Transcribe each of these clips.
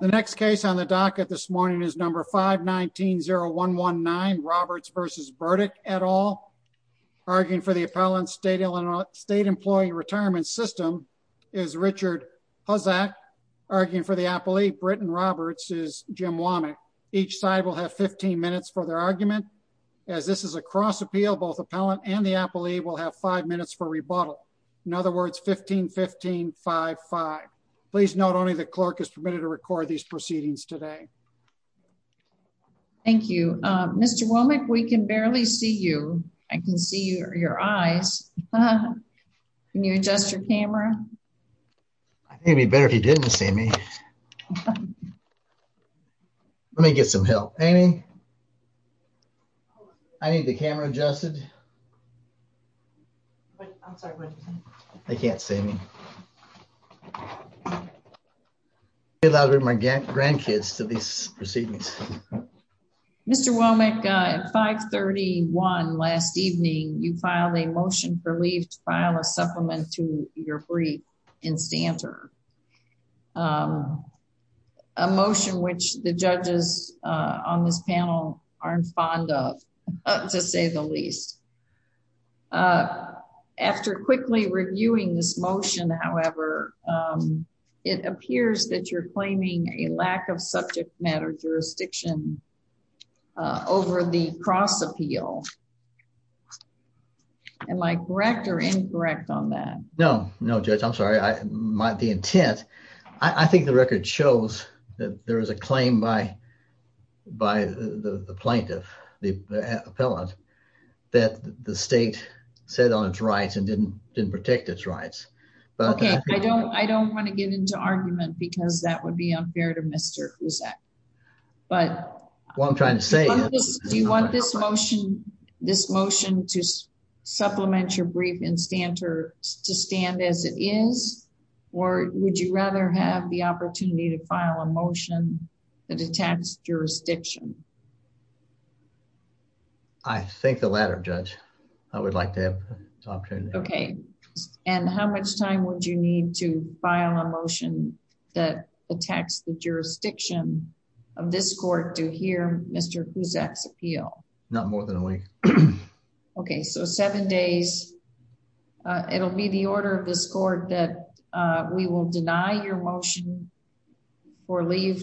the next case on the docket this morning is number 519 0 1 1 9 Roberts versus Burdick et al. Arguing for the appellant state Illinois state employee retirement system is Richard Hozak. Arguing for the appellee Britton Roberts is Jim Womack. Each side will have 15 minutes for their argument. As this is a cross appeal both appellant and the appellee will have five minutes for rebuttal. In other words 15 15 5 5. Please note only the clerk is permitted to record these proceedings today. Thank you Mr. Womack. We can barely see you. I can see your eyes. Can you adjust your camera? Maybe better if you didn't see me. Let me get some help. Amy, I need the camera adjusted. They can't see me. I'll get my grandkids to these proceedings. Mr. Womack at 531 last evening you filed a motion for leave to file a supplement to your brief in this panel aren't fond of to say the least. Uh, after quickly reviewing this motion, however, um, it appears that you're claiming a lack of subject matter jurisdiction, uh, over the cross appeal. Am I correct or incorrect on that? No, no judge. I'm sorry. I might be intent. I think the record shows that there is a claim by by the plaintiff, the appellant that the state said on its rights and didn't didn't protect its rights. Okay, I don't I don't want to get into argument because that would be unfair to Mr. Who's that? But what I'm trying to say, do you want this motion, this motion to supplement your brief in standards to stand as it is? Or would you rather have the opportunity to file a motion that attacks jurisdiction? I think the latter judge I would like to have. Okay. And how much time would you need to file a motion that attacks the jurisdiction of this court to hear Mr. Who's X appeal? Not more than a week. Okay, so seven days. Uh, it will be the order of this court that we will deny your motion or leave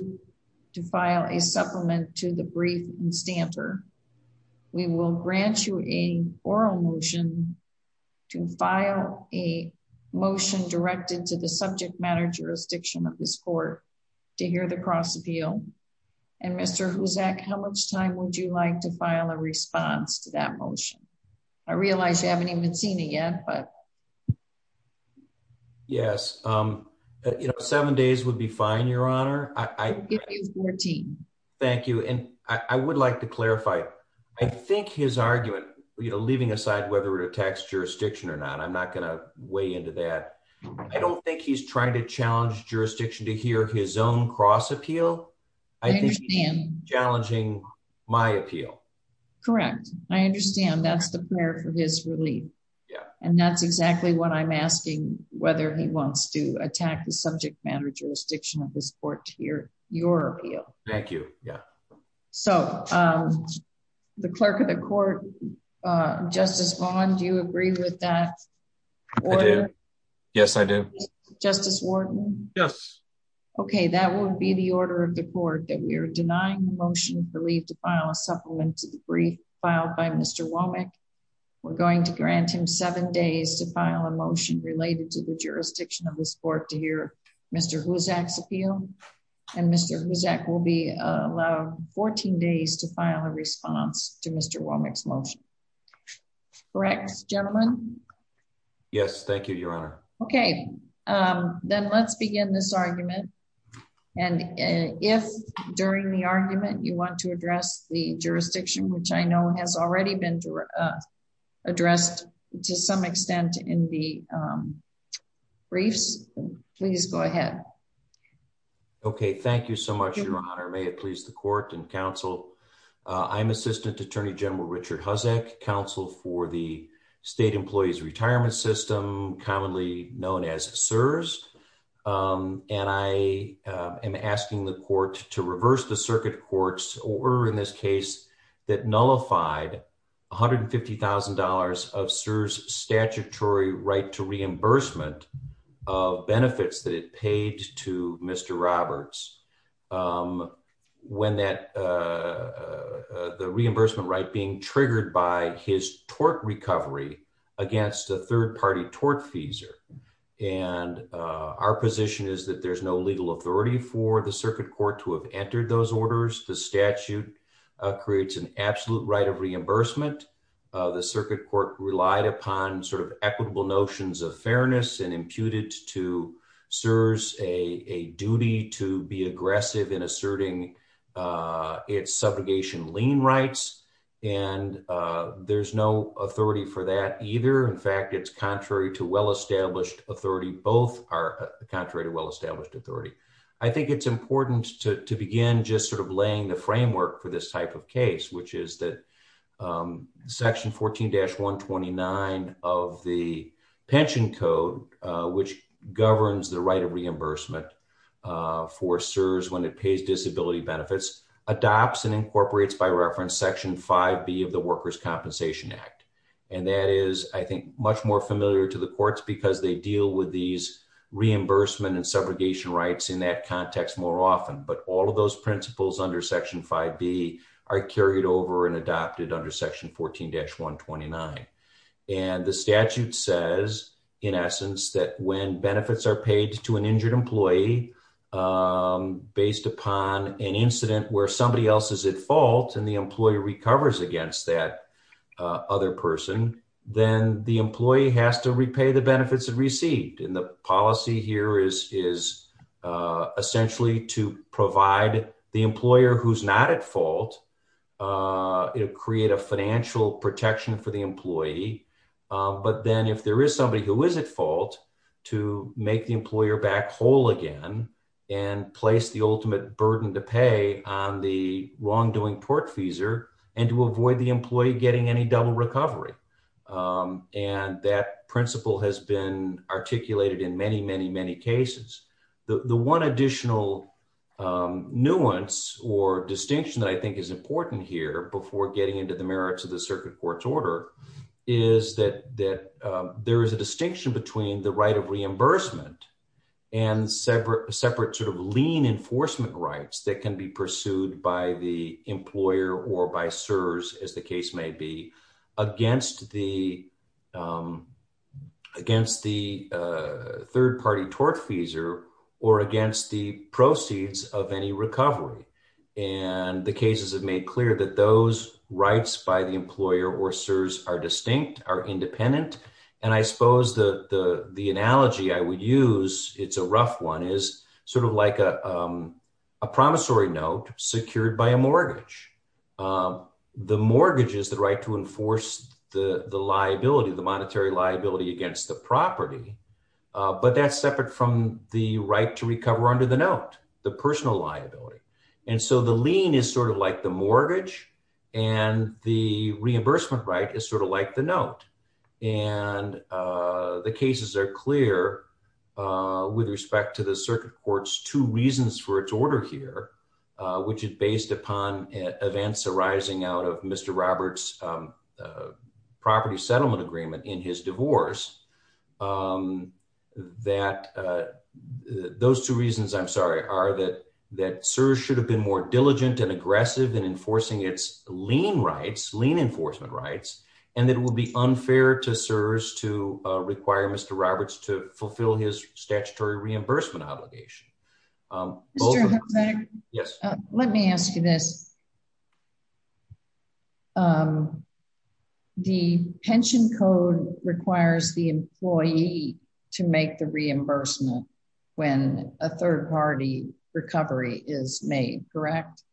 to file a supplement to the brief and stamper. We will grant you a oral motion to file a motion directed to the subject matter jurisdiction of this court to hear the cross appeal. And Mr. Who's that? How much time would you like to file a Yes. Um, you know, seven days would be fine. Your honor. I 14. Thank you. And I would like to clarify. I think his argument, you know, leaving aside whether it attacks jurisdiction or not, I'm not gonna weigh into that. I don't think he's trying to challenge jurisdiction to hear his own cross appeal. I think he's challenging my appeal. Correct. I understand. That's a prayer for his relief. And that's exactly what I'm asking. Whether he wants to attack the subject matter jurisdiction of this court here. Your appeal. Thank you. Yeah. So, um, the clerk of the court, uh, Justice Bond, you agree with that? Yes, I do. Justice Ward. Yes. Okay. That would be the order of the court that we're denying the motion for leave to file a Womack. We're going to grant him seven days to file a motion related to the jurisdiction of this court to hear Mr Who's acts appeal. And Mr Who's that will be allowed 14 days to file a response to Mr Womack's motion. Correct, gentlemen. Yes. Thank you, Your Honor. Okay. Um, then let's begin this argument. And if during the argument you want to address the addressed to some extent in the, um, briefs, please go ahead. Okay. Thank you so much, Your Honor. May it please the court and counsel. I'm Assistant Attorney General Richard Hussack, counsel for the state employees retirement system, commonly known as Sirs. Um, and I am asking the court to $150,000 of Sirs statutory right to reimbursement of benefits that it paid to Mr Roberts. Um, when that, uh, the reimbursement right being triggered by his torque recovery against a third party tort fees are and our position is that there's no legal authority for the circuit court to have entered those reimbursement. Uh, the circuit court relied upon sort of equitable notions of fairness and imputed to Sirs a duty to be aggressive in asserting, uh, its subrogation lien rights. And, uh, there's no authority for that either. In fact, it's contrary to well established authority. Both are contrary to well established authority. I think it's important to begin just laying the framework for this type of case, which is that, um, section 14-1 29 of the pension code, which governs the right of reimbursement for Sirs when it pays disability benefits, adopts and incorporates by reference section five B of the Workers Compensation Act. And that is, I think, much more familiar to the courts because they deal with these reimbursement and under section five B are carried over and adopted under section 14-1 29. And the statute says, in essence, that when benefits are paid to an injured employee, um, based upon an incident where somebody else is at fault and the employee recovers against that other person, then the employee has to repay the benefits of received. And the policy here is, is, uh, essentially to provide the employer who's not at fault. Uh, it'll create a financial protection for the employee. Um, but then if there is somebody who is at fault to make the employer back whole again and place the ultimate burden to pay on the wrongdoing portfeasor and to avoid the employee getting any double recovery. Um, and that principle has been articulated in many, many, many cases. The one additional, um, nuance or distinction that I think is important here before getting into the merits of the circuit court's order is that, that, uh, there is a distinction between the right of reimbursement and separate, separate sort of lean enforcement rights that can be pursued by the employer or by serves as the case may be against the, um, against the, uh, third party portfeasor or against the proceeds of any recovery. And the cases have made clear that those rights by the employer or serves are distinct, are independent. And I suppose the, the, the analogy I would use, it's a rough one is sort of like a, um, a promissory note secured by a mortgage. Um, the mortgage is the right to enforce the liability of the monetary liability against the property. Uh, but that's separate from the right to recover under the note, the personal liability. And so the lien is sort of like the mortgage and the reimbursement right is sort of like the note. And, uh, the cases are clear, uh, with respect to the circuit court's two reasons for its order here, uh, which is based upon events arising out of Mr. Robert's, um, uh, property settlement agreement in his that, uh, those two reasons, I'm sorry, are that that serves should have been more diligent and aggressive than enforcing its lien rights, lien enforcement rights. And it will be unfair to serves to require Mr. Roberts to fulfill his statutory reimbursement obligation. Um, yes, let me ask you this. Um, the pension code requires the employee to make the reimbursement when a third party recovery is made, correct?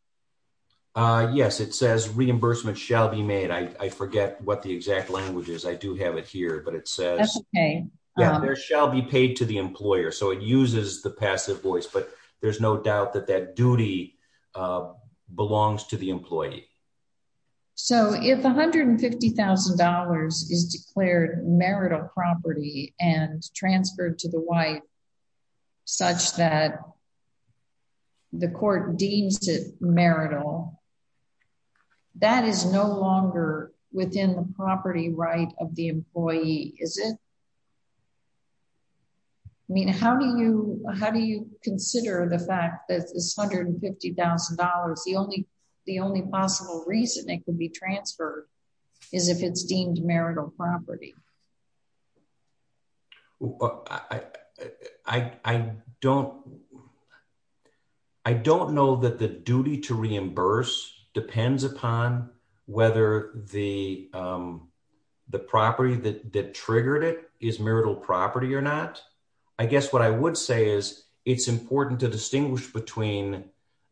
Uh, yes, it says reimbursement shall be made. I forget what the exact language is. I do have it here, but it says there shall be paid to the employer. So it uses the passive voice. But there's no doubt that that duty, uh, belongs to the employee. So if $150,000 is declared marital property and transferred to the wife such that the court deems it marital, that is no longer within the property right of the employee, is it? I mean, how do you how do you consider the fact that $150,000? The only the only possible reason it could be transferred is if it's deemed marital property. I don't I don't know that the duty to reimburse depends upon whether the, um, the property that triggered it is marital property or not. I guess what I would say is it's important to distinguish between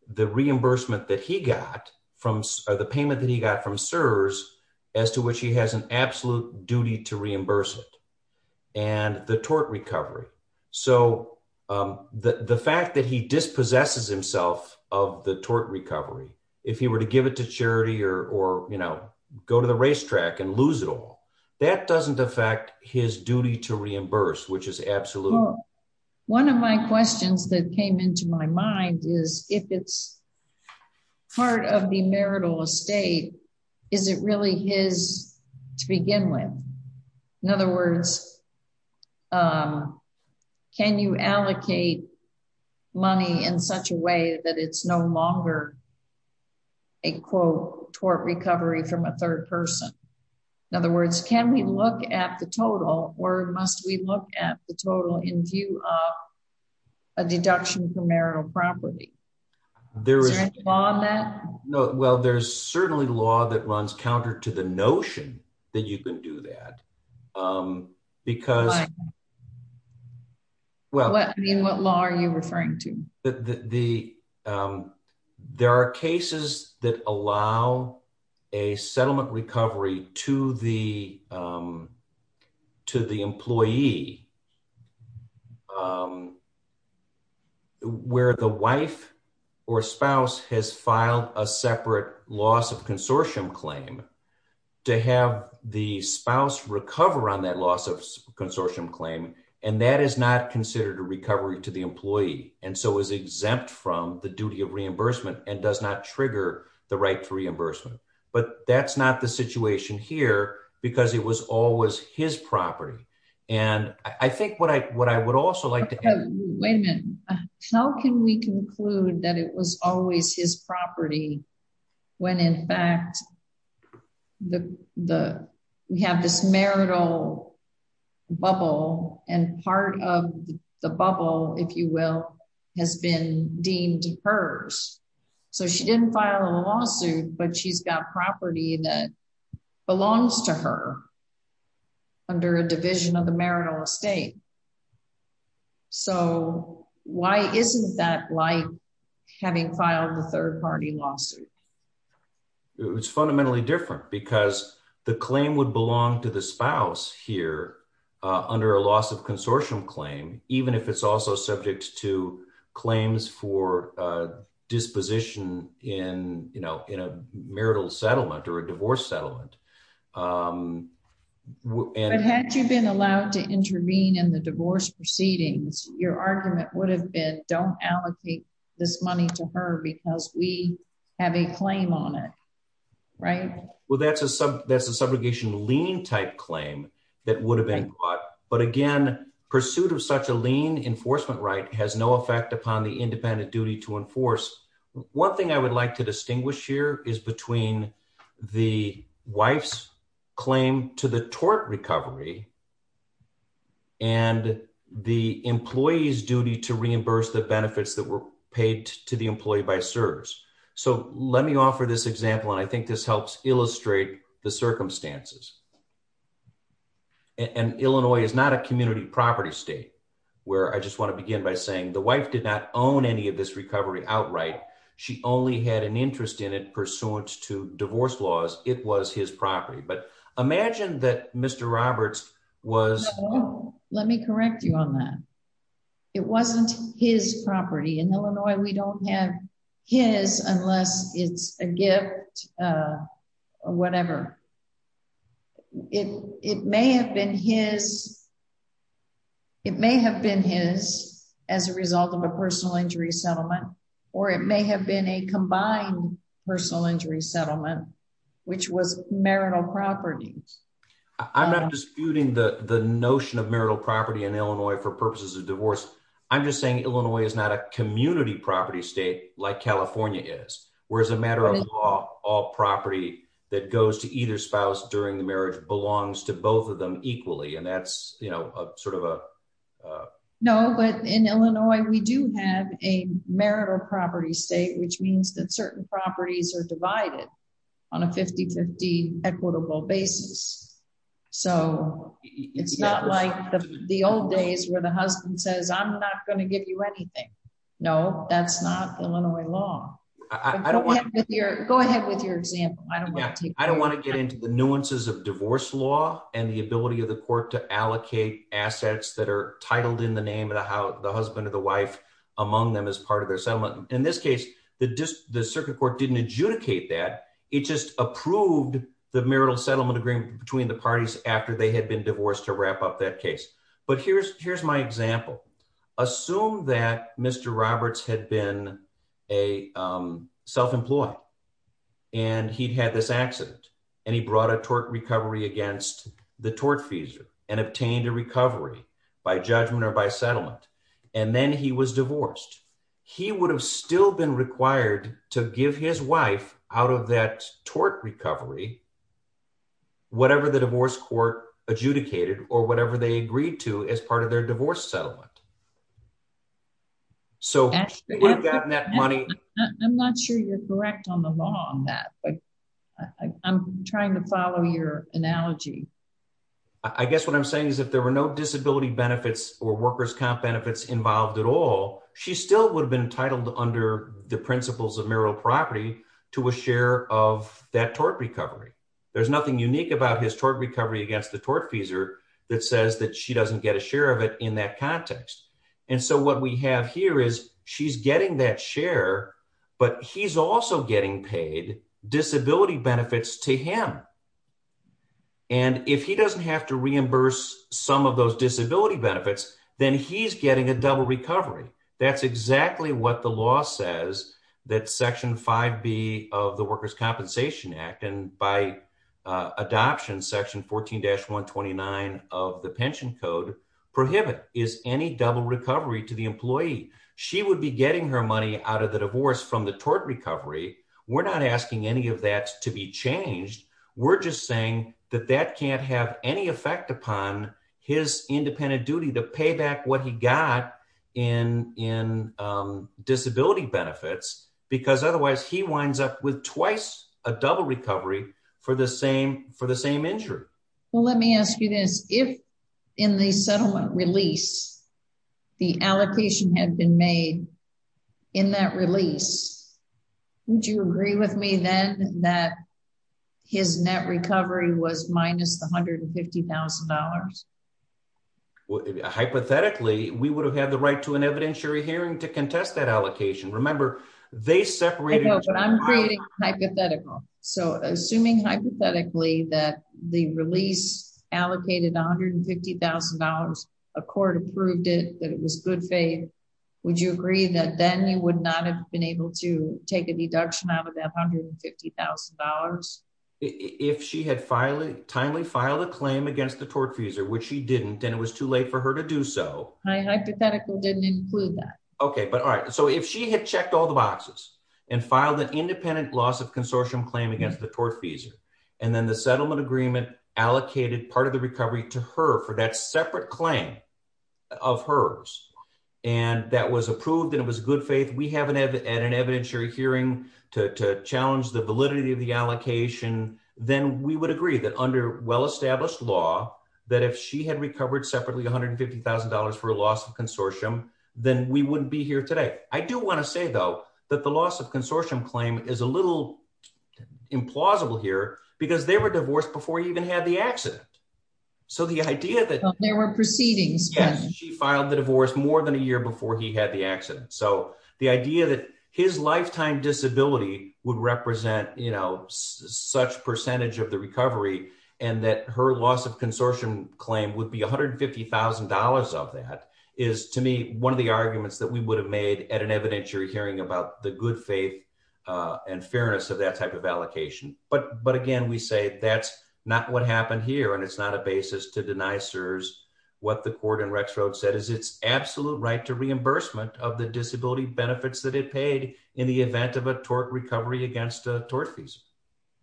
the reimbursement that he got from the payment that he got from Sirs as to which he has an absolute duty to reimburse it and the tort recovery. So, um, the fact that he dispossesses himself of the tort recovery, if he were to give it to that doesn't affect his duty to reimburse, which is absolutely one of my questions that came into my mind is if it's part of the marital estate, is it really his to begin with? In other words, um, can you allocate money in such a way that it's no longer a quote tort recovery from a third person? In other words, can we look at the total? Or must we look at the total in view of a deduction for marital property? There is no. Well, there's certainly law that runs counter to the notion that you can do that. Um, because yeah, well, I mean, what law are you referring to? The, um, there are cases that allow a settlement recovery to the, um, to the employee. Um, where the wife or spouse has filed a separate loss of consortium claim to have the spouse recover on that loss of consortium claim. And that is not considered a recovery to the employee and so is exempt from the duty of reimbursement and does not trigger the right to reimbursement. But that's not the situation here because it was always his property. And I think what I what I would also like to wait a minute. How can we conclude that it was always his property when in fact the we have this marital bubble and part of the bubble, if you will, has been deemed hers. So she didn't file a lawsuit, but she's got property that belongs to her under a division of the having filed the third party lawsuit. It's fundamentally different because the claim would belong to the spouse here under a loss of consortium claim, even if it's also subject to claims for disposition in, you know, in a marital settlement or a divorce settlement. Um, and had you been allowed to intervene in the divorce proceedings, your this money to her because we have a claim on it, right? Well, that's a sub. That's a subrogation lean type claim that would have been caught. But again, pursuit of such a lean enforcement right has no effect upon the independent duty to enforce. One thing I would like to distinguish here is between the wife's claim to the tort recovery and the employees duty to reimburse the benefits that were paid to the employee by serves. So let me offer this example, and I think this helps illustrate the circumstances. And Illinois is not a community property state where I just want to begin by saying the wife did not own any of this recovery outright. She only had an interest in it pursuant to divorce laws. It was his property. But imagine that Mr Roberts was. Let me correct you on that. It wasn't his property in Illinois. We don't have his unless it's a gift. Uh, whatever. It may have been his. It may have been his as a result of a personal injury settlement, or it may have been a combined personal injury settlement, which was marital properties. I'm not disputing the notion of marital property in Illinois for purposes of divorce. I'm just saying Illinois is not a community property state like California is, whereas a matter of law, all property that goes to either spouse during the marriage belongs to both of them equally. And that's, you know, sort of a no. But in Illinois, we do have a marital property state, which means that certain properties are divided on a 50 50 equitable basis. So it's not like the old days where the husband says, I'm not going to give you anything. No, that's not Illinois law. I don't want to go ahead with your example. I don't want to get into the nuances of divorce law and the ability of the court to allocate assets that are titled in the name of how the husband of the wife among them as part of their settlement. In this case, the the circuit court didn't adjudicate that. It just approved the marital settlement agreement between the parties after they had been divorced to wrap up that case. But here's here's my example. Assume that Mr. Roberts had been a self employed, and he had this accident, and he brought a tort recovery against the tort fees and obtained a recovery by judgment or by to give his wife out of that tort recovery, whatever the divorce court adjudicated or whatever they agreed to as part of their divorce settlement. So we've gotten that money. I'm not sure you're correct on the law on that, but I'm trying to follow your analogy. I guess what I'm saying is that there were no disability benefits or workers comp benefits involved at all. She still would have been entitled under the principles of marital property to a share of that tort recovery. There's nothing unique about his tort recovery against the tort fees or that says that she doesn't get a share of it in that context. And so what we have here is she's getting that share, but he's also getting paid disability benefits to him. And if he doesn't have to reimburse some of those disability benefits, then he's getting a double recovery. That's exactly what the law says that Section five B of the Workers Compensation Act and by adoption section 14-1 29 of the pension code prohibit is any double recovery to the employee. She would be getting her money out of the divorce from the tort recovery. We're not asking any of that to be changed. We're just saying that that can't have any effect upon his independent duty to pay back what he got in in disability benefits because otherwise he winds up with twice a double recovery for the same for the same injury. Well, let me ask you this. If in the settlement release, the allocation had been made in that release, would you agree with me then that his net recovery was minus $150,000? Hypothetically, we would have had the right to an evidentiary hearing to contest that allocation. Remember, they separated. I'm creating hypothetical. So assuming hypothetically that the release allocated $150,000, a court approved it, that it was good faith. Would you agree that then you would not been able to take a deduction out of that $150,000 if she had finally timely filed a claim against the tortfeasor, which she didn't, and it was too late for her to do so. I hypothetical didn't include that. Okay, but all right. So if she had checked all the boxes and filed an independent loss of consortium claim against the tortfeasor and then the settlement agreement allocated part of the recovery to her for that separate claim of hers and that was approved and it was good faith. We haven't had an evidentiary hearing to challenge the validity of the allocation. Then we would agree that under well established law that if she had recovered separately $150,000 for a loss of consortium, then we wouldn't be here today. I do want to say, though, that the loss of consortium claim is a little implausible here because they were divorced before he even had the accident. So the idea that there were proceedings, she filed the divorce more than a year before he had the accident. So the idea that his lifetime disability would represent, you know, such percentage of the recovery and that her loss of consortium claim would be $150,000 of that is to me one of the arguments that we would have made at an evidentiary hearing about the good faith and fairness of that type of allocation. But again, we say that's not what happened here, and it's not a basis to deny serves what the court in Rex Road said is its absolute right to reimbursement of the disability benefits that it paid in the event of a tort recovery against tort fees.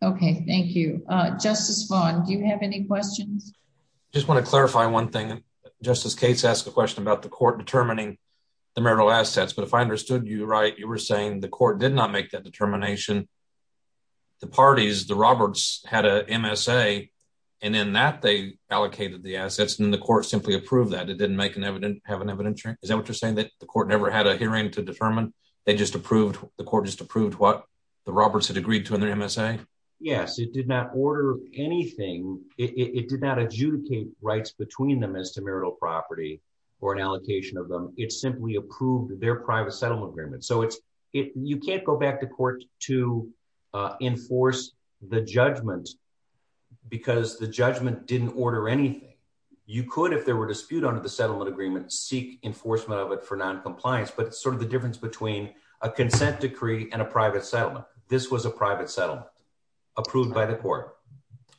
Okay, thank you, Justice Bond. Do you have any questions? I just want to clarify one thing. Justice Cates asked a question about the court determining the marital assets. But if I understood you right, you were saying the court did not make that determination. The parties, the Roberts had a M. S. A. And in that they allocated the assets in the court simply approved that it didn't make an evident have an insurance. Is that what you're saying? That the court never had a hearing to determine. They just approved. The court just approved what the Roberts had agreed to in their M. S. A. Yes, it did not order anything. It did not adjudicate rights between them as to marital property or an allocation of them. It simply approved their private settlement agreement. So it's you can't go back to court to enforce the judgment because the judgment didn't order anything. You could, if there were dispute under the settlement agreement, seek enforcement of it for noncompliance. But it's sort of the difference between a consent decree and a private settlement. This was a private settlement approved by the court.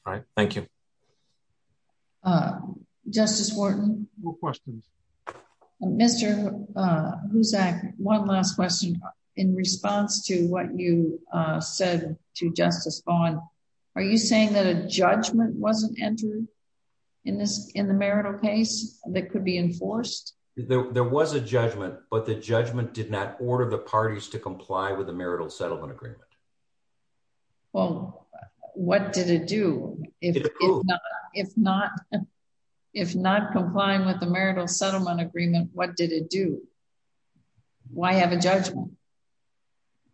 All right, thank you. Uh, Justice Wharton, Mr. Uh, who's that? One last question in response to what you said to Justice Bond. Are you saying that a judgment wasn't entered in this in the marital case that could be enforced? There was a judgment, but the judgment did not order the parties to comply with the marital settlement agreement. Well, what did it do? If not, if not, if not complying with the marital settlement agreement, what did it do? Why have a judgment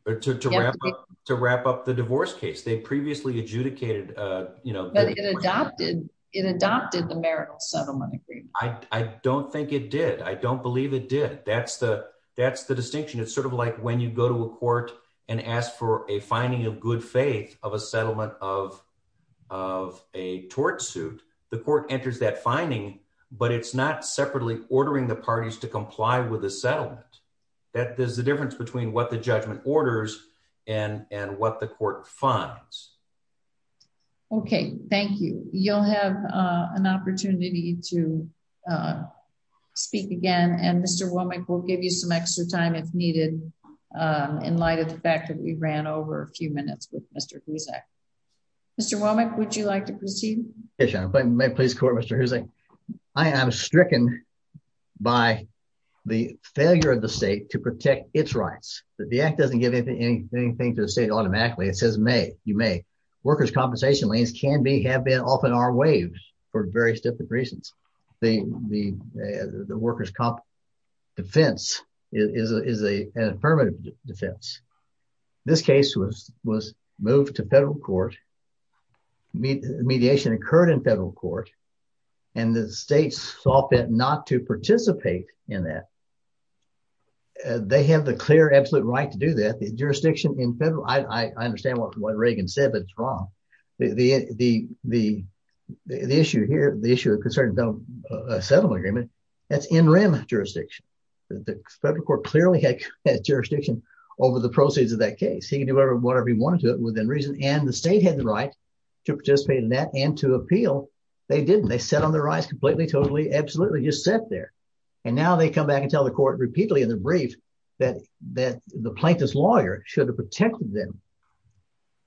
to wrap up to wrap up the divorce case? They previously adjudicated, uh, you it adopted the marital settlement agreement. I don't think it did. I don't believe it did. That's the that's the distinction. It's sort of like when you go to a court and ask for a finding of good faith of a settlement of of a tort suit, the court enters that finding, but it's not separately ordering the parties to comply with the settlement. That is the difference between what the judgment orders and and what the court funds. Okay. Thank you. You'll have an opportunity to, uh, speak again. And Mr Womack will give you some extra time if needed. Um, in light of the fact that we ran over a few minutes with Mr Who's act, Mr Womack, would you like to proceed? Please call Mr Who's like I am stricken by the failure of the state to protect its rights that the act doesn't give anything to the state. Automatically, it says may you may workers compensation lanes can be have been off in our waves for various different reasons. The the workers comp defense is a permanent defense. This case was was moved to federal court. Mediation occurred in federal court, and the states saw fit not to participate in that. They have the clear, absolute right to do that. The jurisdiction in federal. I understand what Reagan said, but it's wrong. The the issue here, the issue of concerned settlement agreement. That's in rim jurisdiction. The federal court clearly had jurisdiction over the proceeds of that case. He can do whatever he wanted to it within reason, and the state had the right to participate in that and to appeal. They didn't. They set on their eyes completely, totally, absolutely just set there. And now they come back and tell the court repeatedly in the brief that that the plaintiff's lawyer should have protected them.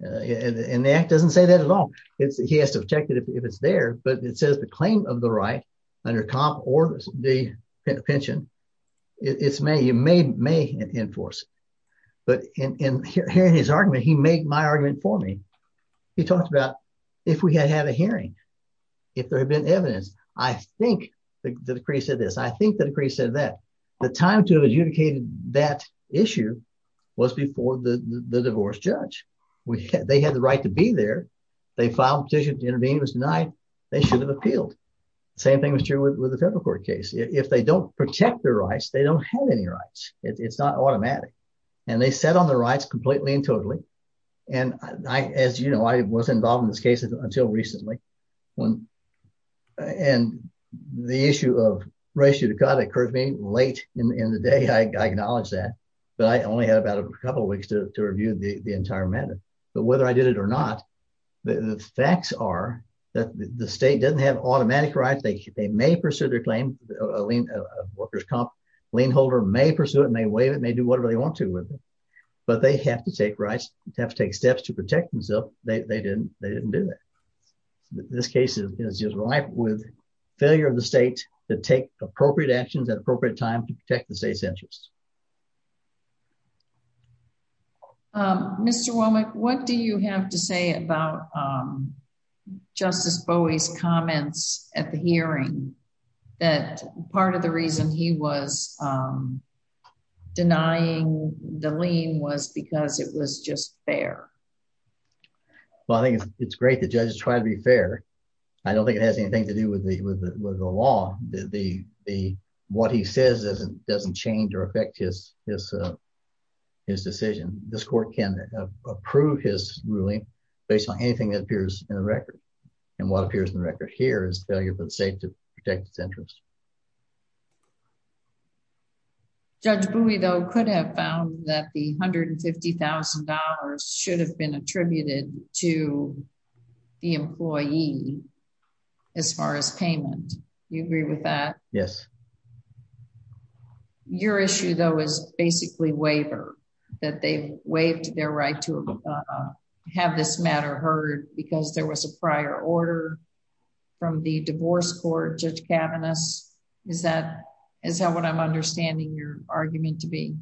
And that doesn't say that at all. It's he has to protect it if it's there. But it says the claim of the right under comp or the pension. It's me. You made me in force. But in here in his argument, he made my argument for me. He talked about if we had had a hearing, if there had been evidence, I think the decrease of this. I think the decrease said that the time to adjudicated that issue was before the divorce judge. They had the right to be there. They filed petition to intervene was denied. They should have appealed. Same thing was true with the federal court case. If they don't protect their rights, they don't have any rights. It's not automatic. And they set on the rights completely and totally. And as you know, I was involved in this case until recently when and the issue of ratio to God occurred to me late in the day. I acknowledge that, but I only had about a couple of weeks to review the entire matter. But whether I did it or not, the facts are that the state doesn't have automatic right. They may pursue their claim. A lean workers comp lean holder may pursue it, may wave it, may do whatever they want to with it. But they have to take rights, have to take steps to protect himself. They didn't. They didn't do it. This case is just right with failure of the state to take appropriate actions at appropriate time to protect the state's interests. Um, Mr Womack, what do you have to say about, um, Justice Bowie's comments at the hearing that part of the reason he was, um, denying the lean was because it was just fair. Well, I think it's great that judges try to be fair. I don't think it has anything to do with the law. The what he says doesn't doesn't change or affect his his his decision. This court can approve his ruling based on anything that appears in the record. And what appears in the record here is failure for the state to protect its interest. Yeah. Judge Bowie, though, could have found that the $150,000 should have been attributed to the employee as far as payment. You agree with that? Yes. Your issue, though, is basically waiver that they waived their right to have this matter heard because there was a prior order from the divorce court. Judge Kavanagh's is that is how what I'm understanding your argument to be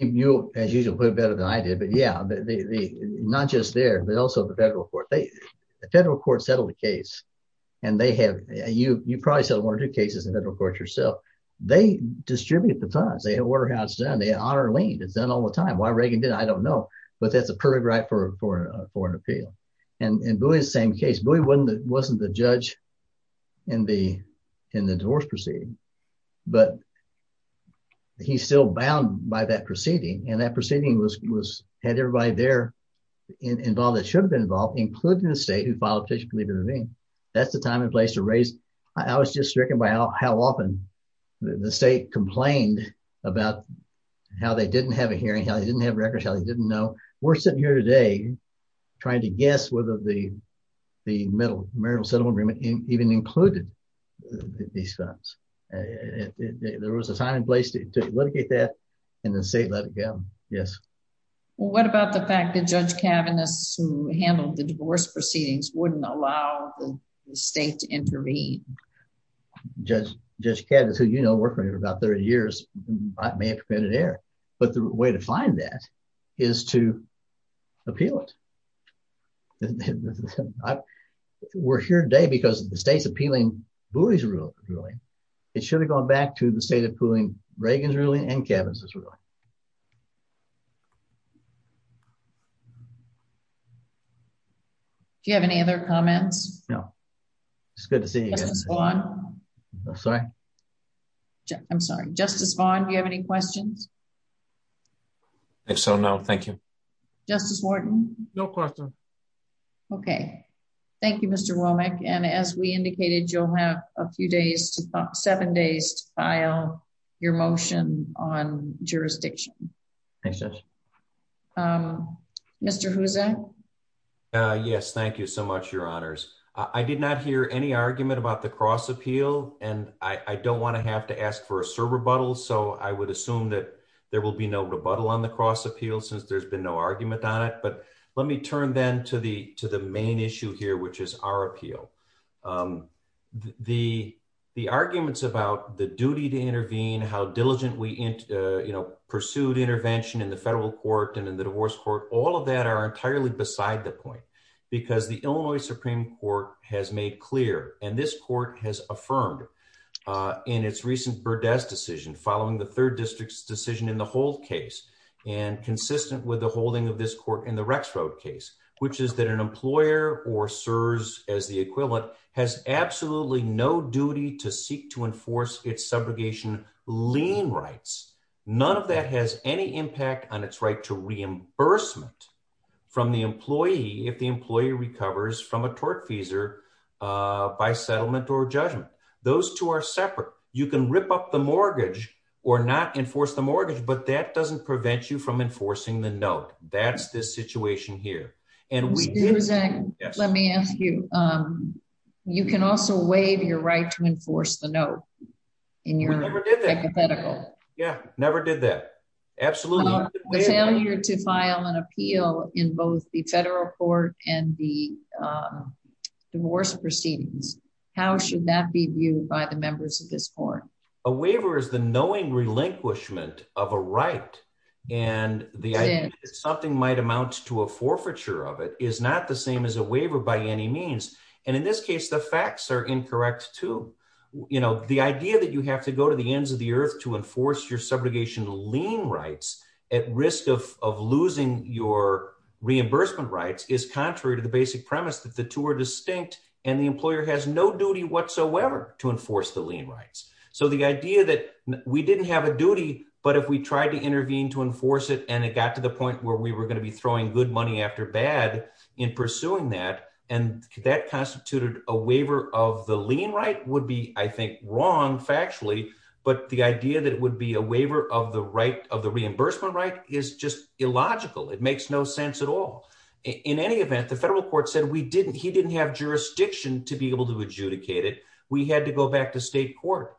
you, as usual, put better than I did. But yeah, not just there, but also the federal court. The federal court settled the case, and they have you. You probably said one or two cases in federal court yourself. They distribute the times they order how it's done. They honor lean. It's done all the time. Why Reagan did? I don't know. But that's a perfect right for a foreign appeal. And in Booey's same case, Booey wasn't the judge in the in the divorce proceeding. But he's still bound by that proceeding. And that proceeding was had everybody there involved that should have been involved, including the state who filed a petition to leave intervene. That's the time and place to raise. I was just stricken by how often the state complained about how they didn't have a hearing, how they didn't have records, how they didn't know. We're sitting here today trying to guess whether the the middle marital settlement agreement even included these funds. There was a time and place to litigate that in the state. Let it go. Yes. What about the fact that Judge Kavanagh's who handled the divorce proceedings wouldn't allow the state to intervene? Judge Kavanagh, who you know, working for about 30 years, may have committed error. But the way to find that is to appeal it. We're here today because the state's appealing Booey's ruling. It should have gone back to the state appealing Reagan's ruling and Kavanagh's ruling. Do you have any other comments? No. It's good to see you again. Sorry. I'm sorry. Justice Vaughn. Do you have any questions? If so, no. Thank you, Justice Wharton. No question. Okay. Thank you, Mr Womack. And as we indicated, you'll have a few days to seven days to file your motion on jurisdiction. Um, Mr. Who's that? Yes. Thank you so much. Your honors. I did not hear any argument about the cross appeal, and I don't want to have to ask for a serve rebuttal. So I would assume that there will be no rebuttal on the cross appeal since there's been no argument on it. But let me turn then to the to the main issue here, which is our appeal. Um, the arguments about the duty to intervene, how diligent we, you know, pursued intervention in the federal court and in the divorce court. All of that are entirely beside the point because the Illinois Supreme Court has made clear and this court has affirmed in its recent Burdess decision following the third district's decision in the whole case and consistent with the holding of this court in the Rex Road case, which is that an employer or serves as the equivalent has absolutely no duty to seek to enforce its subrogation lean rights. None of that has any impact on its right to reimbursement from the employee. If the employee recovers from a tort feasor by settlement or judgment, those two are separate. You can rip up the mortgage or not enforce the mortgage, but that doesn't prevent you from enforcing the note. That's this situation here. And we use it. Let me ask you. Um, you can also waive your right to enforce the note in your hypothetical. Yeah, never did that. Absolutely. Failure to file an appeal in both the federal court and the, um, divorce proceedings. How should that be viewed by the members of this court? A waiver is the knowing relinquishment of a right, and the something might amount to a forfeiture of it is not the same as a waiver by any means. And in this case, the facts are incorrect to, you know, the idea that you have to go to the ends of the earth to enforce your reimbursement rights is contrary to the basic premise that the two are distinct, and the employer has no duty whatsoever to enforce the lien rights. So the idea that we didn't have a duty, but if we tried to intervene to enforce it, and it got to the point where we were going to be throwing good money after bad in pursuing that, and that constituted a waiver of the lien right would be, I think, wrong factually. But the idea that would be a waiver of the right of the reimbursement right is just illogical. It makes no sense at all. In any event, the federal court said we didn't, he didn't have jurisdiction to be able to adjudicate it. We had to go back to state court,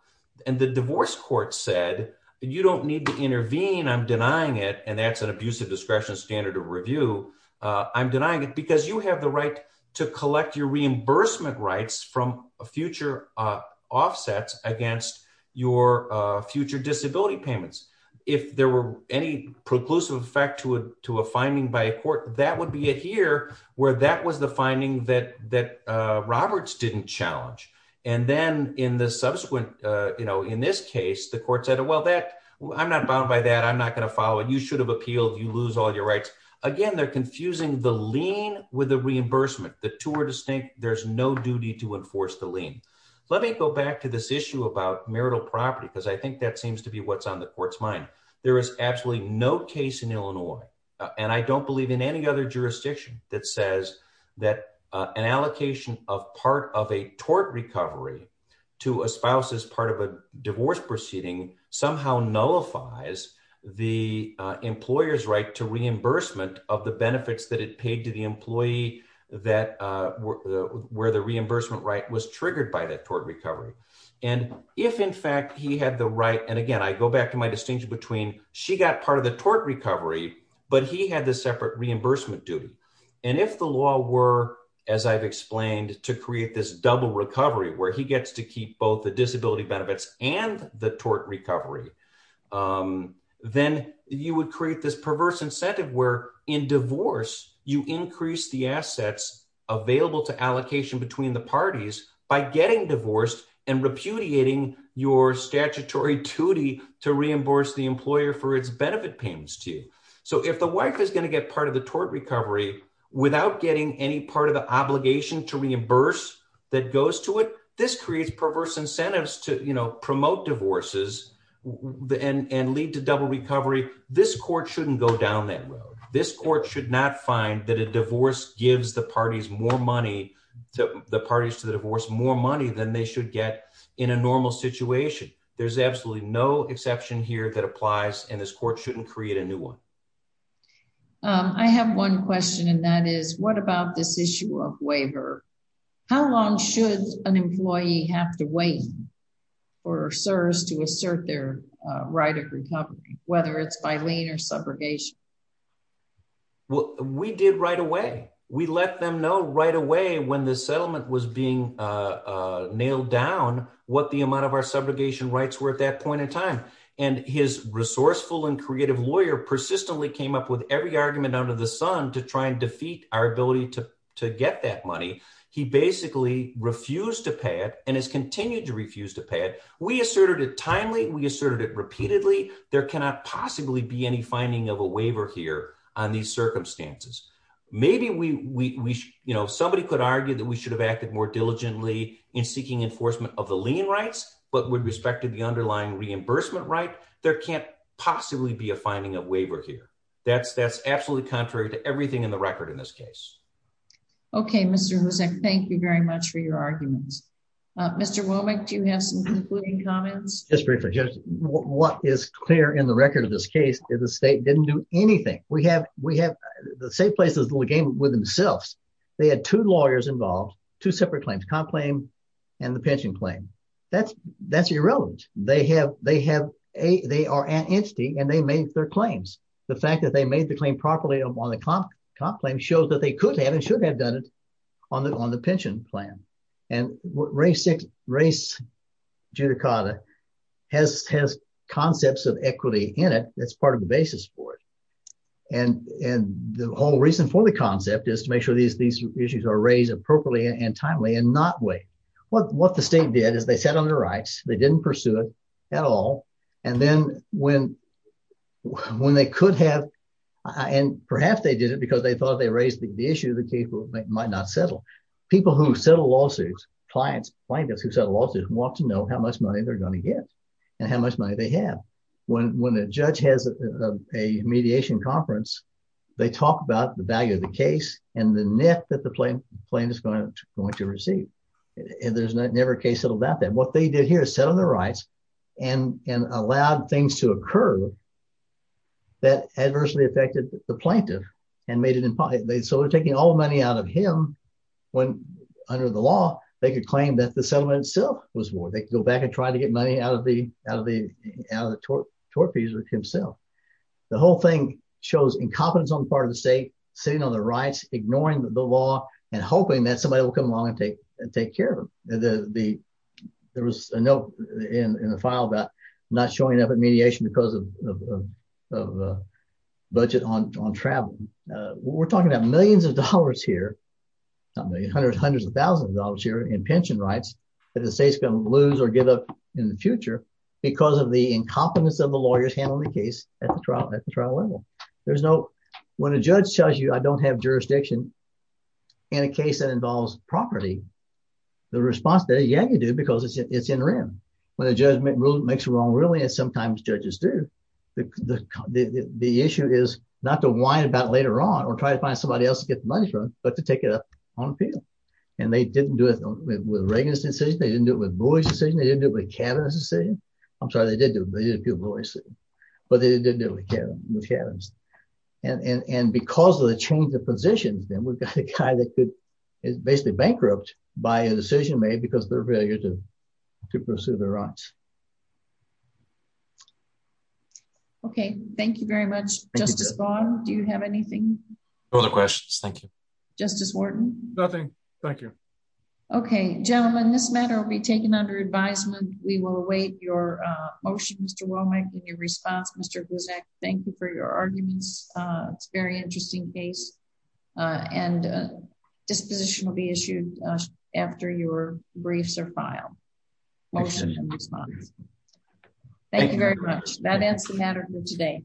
and the divorce court said, you don't need to intervene. I'm denying it. And that's an abusive discretion standard of review. I'm denying it because you have the right to collect your reimbursement rights from a future offsets against your future disability payments. If there were any preclusive effect to a finding by a court, that would be it here, where that was the finding that Roberts didn't challenge. And then in the subsequent, you know, in this case, the court said, well, that I'm not bound by that. I'm not going to follow it. You should have appealed. You lose all your rights again. They're confusing the lien with the reimbursement. The two are distinct. There's no duty to enforce the lien. Let me go back to this issue about marital property, because I think that seems to be what's on the court's mind. There is absolutely no case in Illinois, and I don't believe in any other jurisdiction that says that an allocation of part of a tort recovery to a spouse as part of a divorce proceeding somehow nullifies the employer's right to reimbursement of the benefits that it paid to the employee that where the reimbursement right was triggered by that tort recovery. And if, in fact, he had the right, and again, I go back to my distinction between she got part of the tort recovery, but he had the separate reimbursement duty. And if the law were, as I've explained, to create this double recovery where he gets to keep both the disability benefits and the tort recovery, then you would create this perverse incentive where in divorce, you increase the assets available to allocation between the and repudiating your statutory duty to reimburse the employer for its benefit payments to you. So if the wife is going to get part of the tort recovery without getting any part of the obligation to reimburse that goes to it, this creates perverse incentives to promote divorces and lead to double recovery. This court shouldn't go down that road. This court should not find that a divorce gives the parties more money, the parties to the divorce more money than they should get in a normal situation. There's absolutely no exception here that applies, and this court shouldn't create a new one. I have one question, and that is what about this issue of waiver? How long should an employee have to wait for serves to assert their right of recovery, whether it's by lane or subrogation? Well, we did right away. We let them know right away when the settlement was being nailed down what the amount of our subrogation rights were at that point in time, and his resourceful and creative lawyer persistently came up with every argument under the sun to try and defeat our ability to get that money. He basically refused to pay it and has continued to refuse to pay it. We asserted it timely. We asserted it repeatedly. There cannot possibly be any finding of a waiver here on these circumstances. Maybe somebody could diligently in seeking enforcement of the lien rights, but with respect to the underlying reimbursement right, there can't possibly be a finding of waiver here. That's that's absolutely contrary to everything in the record in this case. Okay, Mr Hussein, thank you very much for your arguments. Mr Womack, do you have some concluding comments? Just briefly. What is clear in the record of this case is the state didn't do anything we have. We have the same places the game with themselves. They had two lawyers involved, two separate claims, comp claim and the pension claim. That's that's irrelevant. They have they have a they are an entity, and they made their claims. The fact that they made the claim properly on the comp comp claim shows that they could have and should have done it on the on the pension plan. And race six race judicata has has concepts of equity in it. That's part of the basis for it. And and the whole reason for the concept is to make sure these these issues are raised appropriately and timely and not wait. What what the state did is they sat on the rights. They didn't pursue it at all. And then when when they could have and perhaps they did it because they thought they raised the issue that people might not settle. People who settle lawsuits, clients, plaintiffs who said losses want to know how much money they're going to get and how much money they have. When when a judge has a mediation conference, they talk about the value of the case and the net that the plane plane is going to going to receive. And there's never a case settled about that. What they did here is set on the rights and allowed things to occur. That adversely affected the plaintiff and made it impossible. So they're taking all the money out of him when under the law, they could claim that the settlement itself was war. They could go back and try to get money out of the out of the out of the tort fees himself. The whole thing shows incompetence on the part of the state sitting on the rights, ignoring the law and hoping that somebody will come along and take and take care of the there was a note in the file that not showing up at mediation because of of budget on travel. We're talking about millions of dollars here, hundreds of thousands of dollars here in pension rights that the state's going to lose or give up in the future because of the incompetence of the lawyers handling the case at the trial at the trial level. There's no when a judge tells you I don't have jurisdiction in a case that involves property. The response that yeah, you do because it's in rim when a judge makes a wrong ruling and sometimes judges do. The issue is not to whine about later on or try to find somebody else to get money from, but to take it up on appeal. And they didn't do it with Reagan's decision. They didn't do it with cabinet decision. I'm sorry, they did do it, but they didn't do it with Kevin. And because of the change of positions, then we've got a guy that could basically bankrupt by a decision made because their failure to to pursue the rights. Okay, thank you very much. Justice Bond. Do you have anything? Other questions? Thank you, Justice Wharton. Nothing. Thank you. Okay, gentlemen, this matter will be taken under advisement. We will await your motion. Mr. Womack in your response, Mr. Guzek, thank you for your arguments. It's very interesting case. And disposition will be issued after your briefs are filed. Motion response. Thank you very much. That ends the matter for today.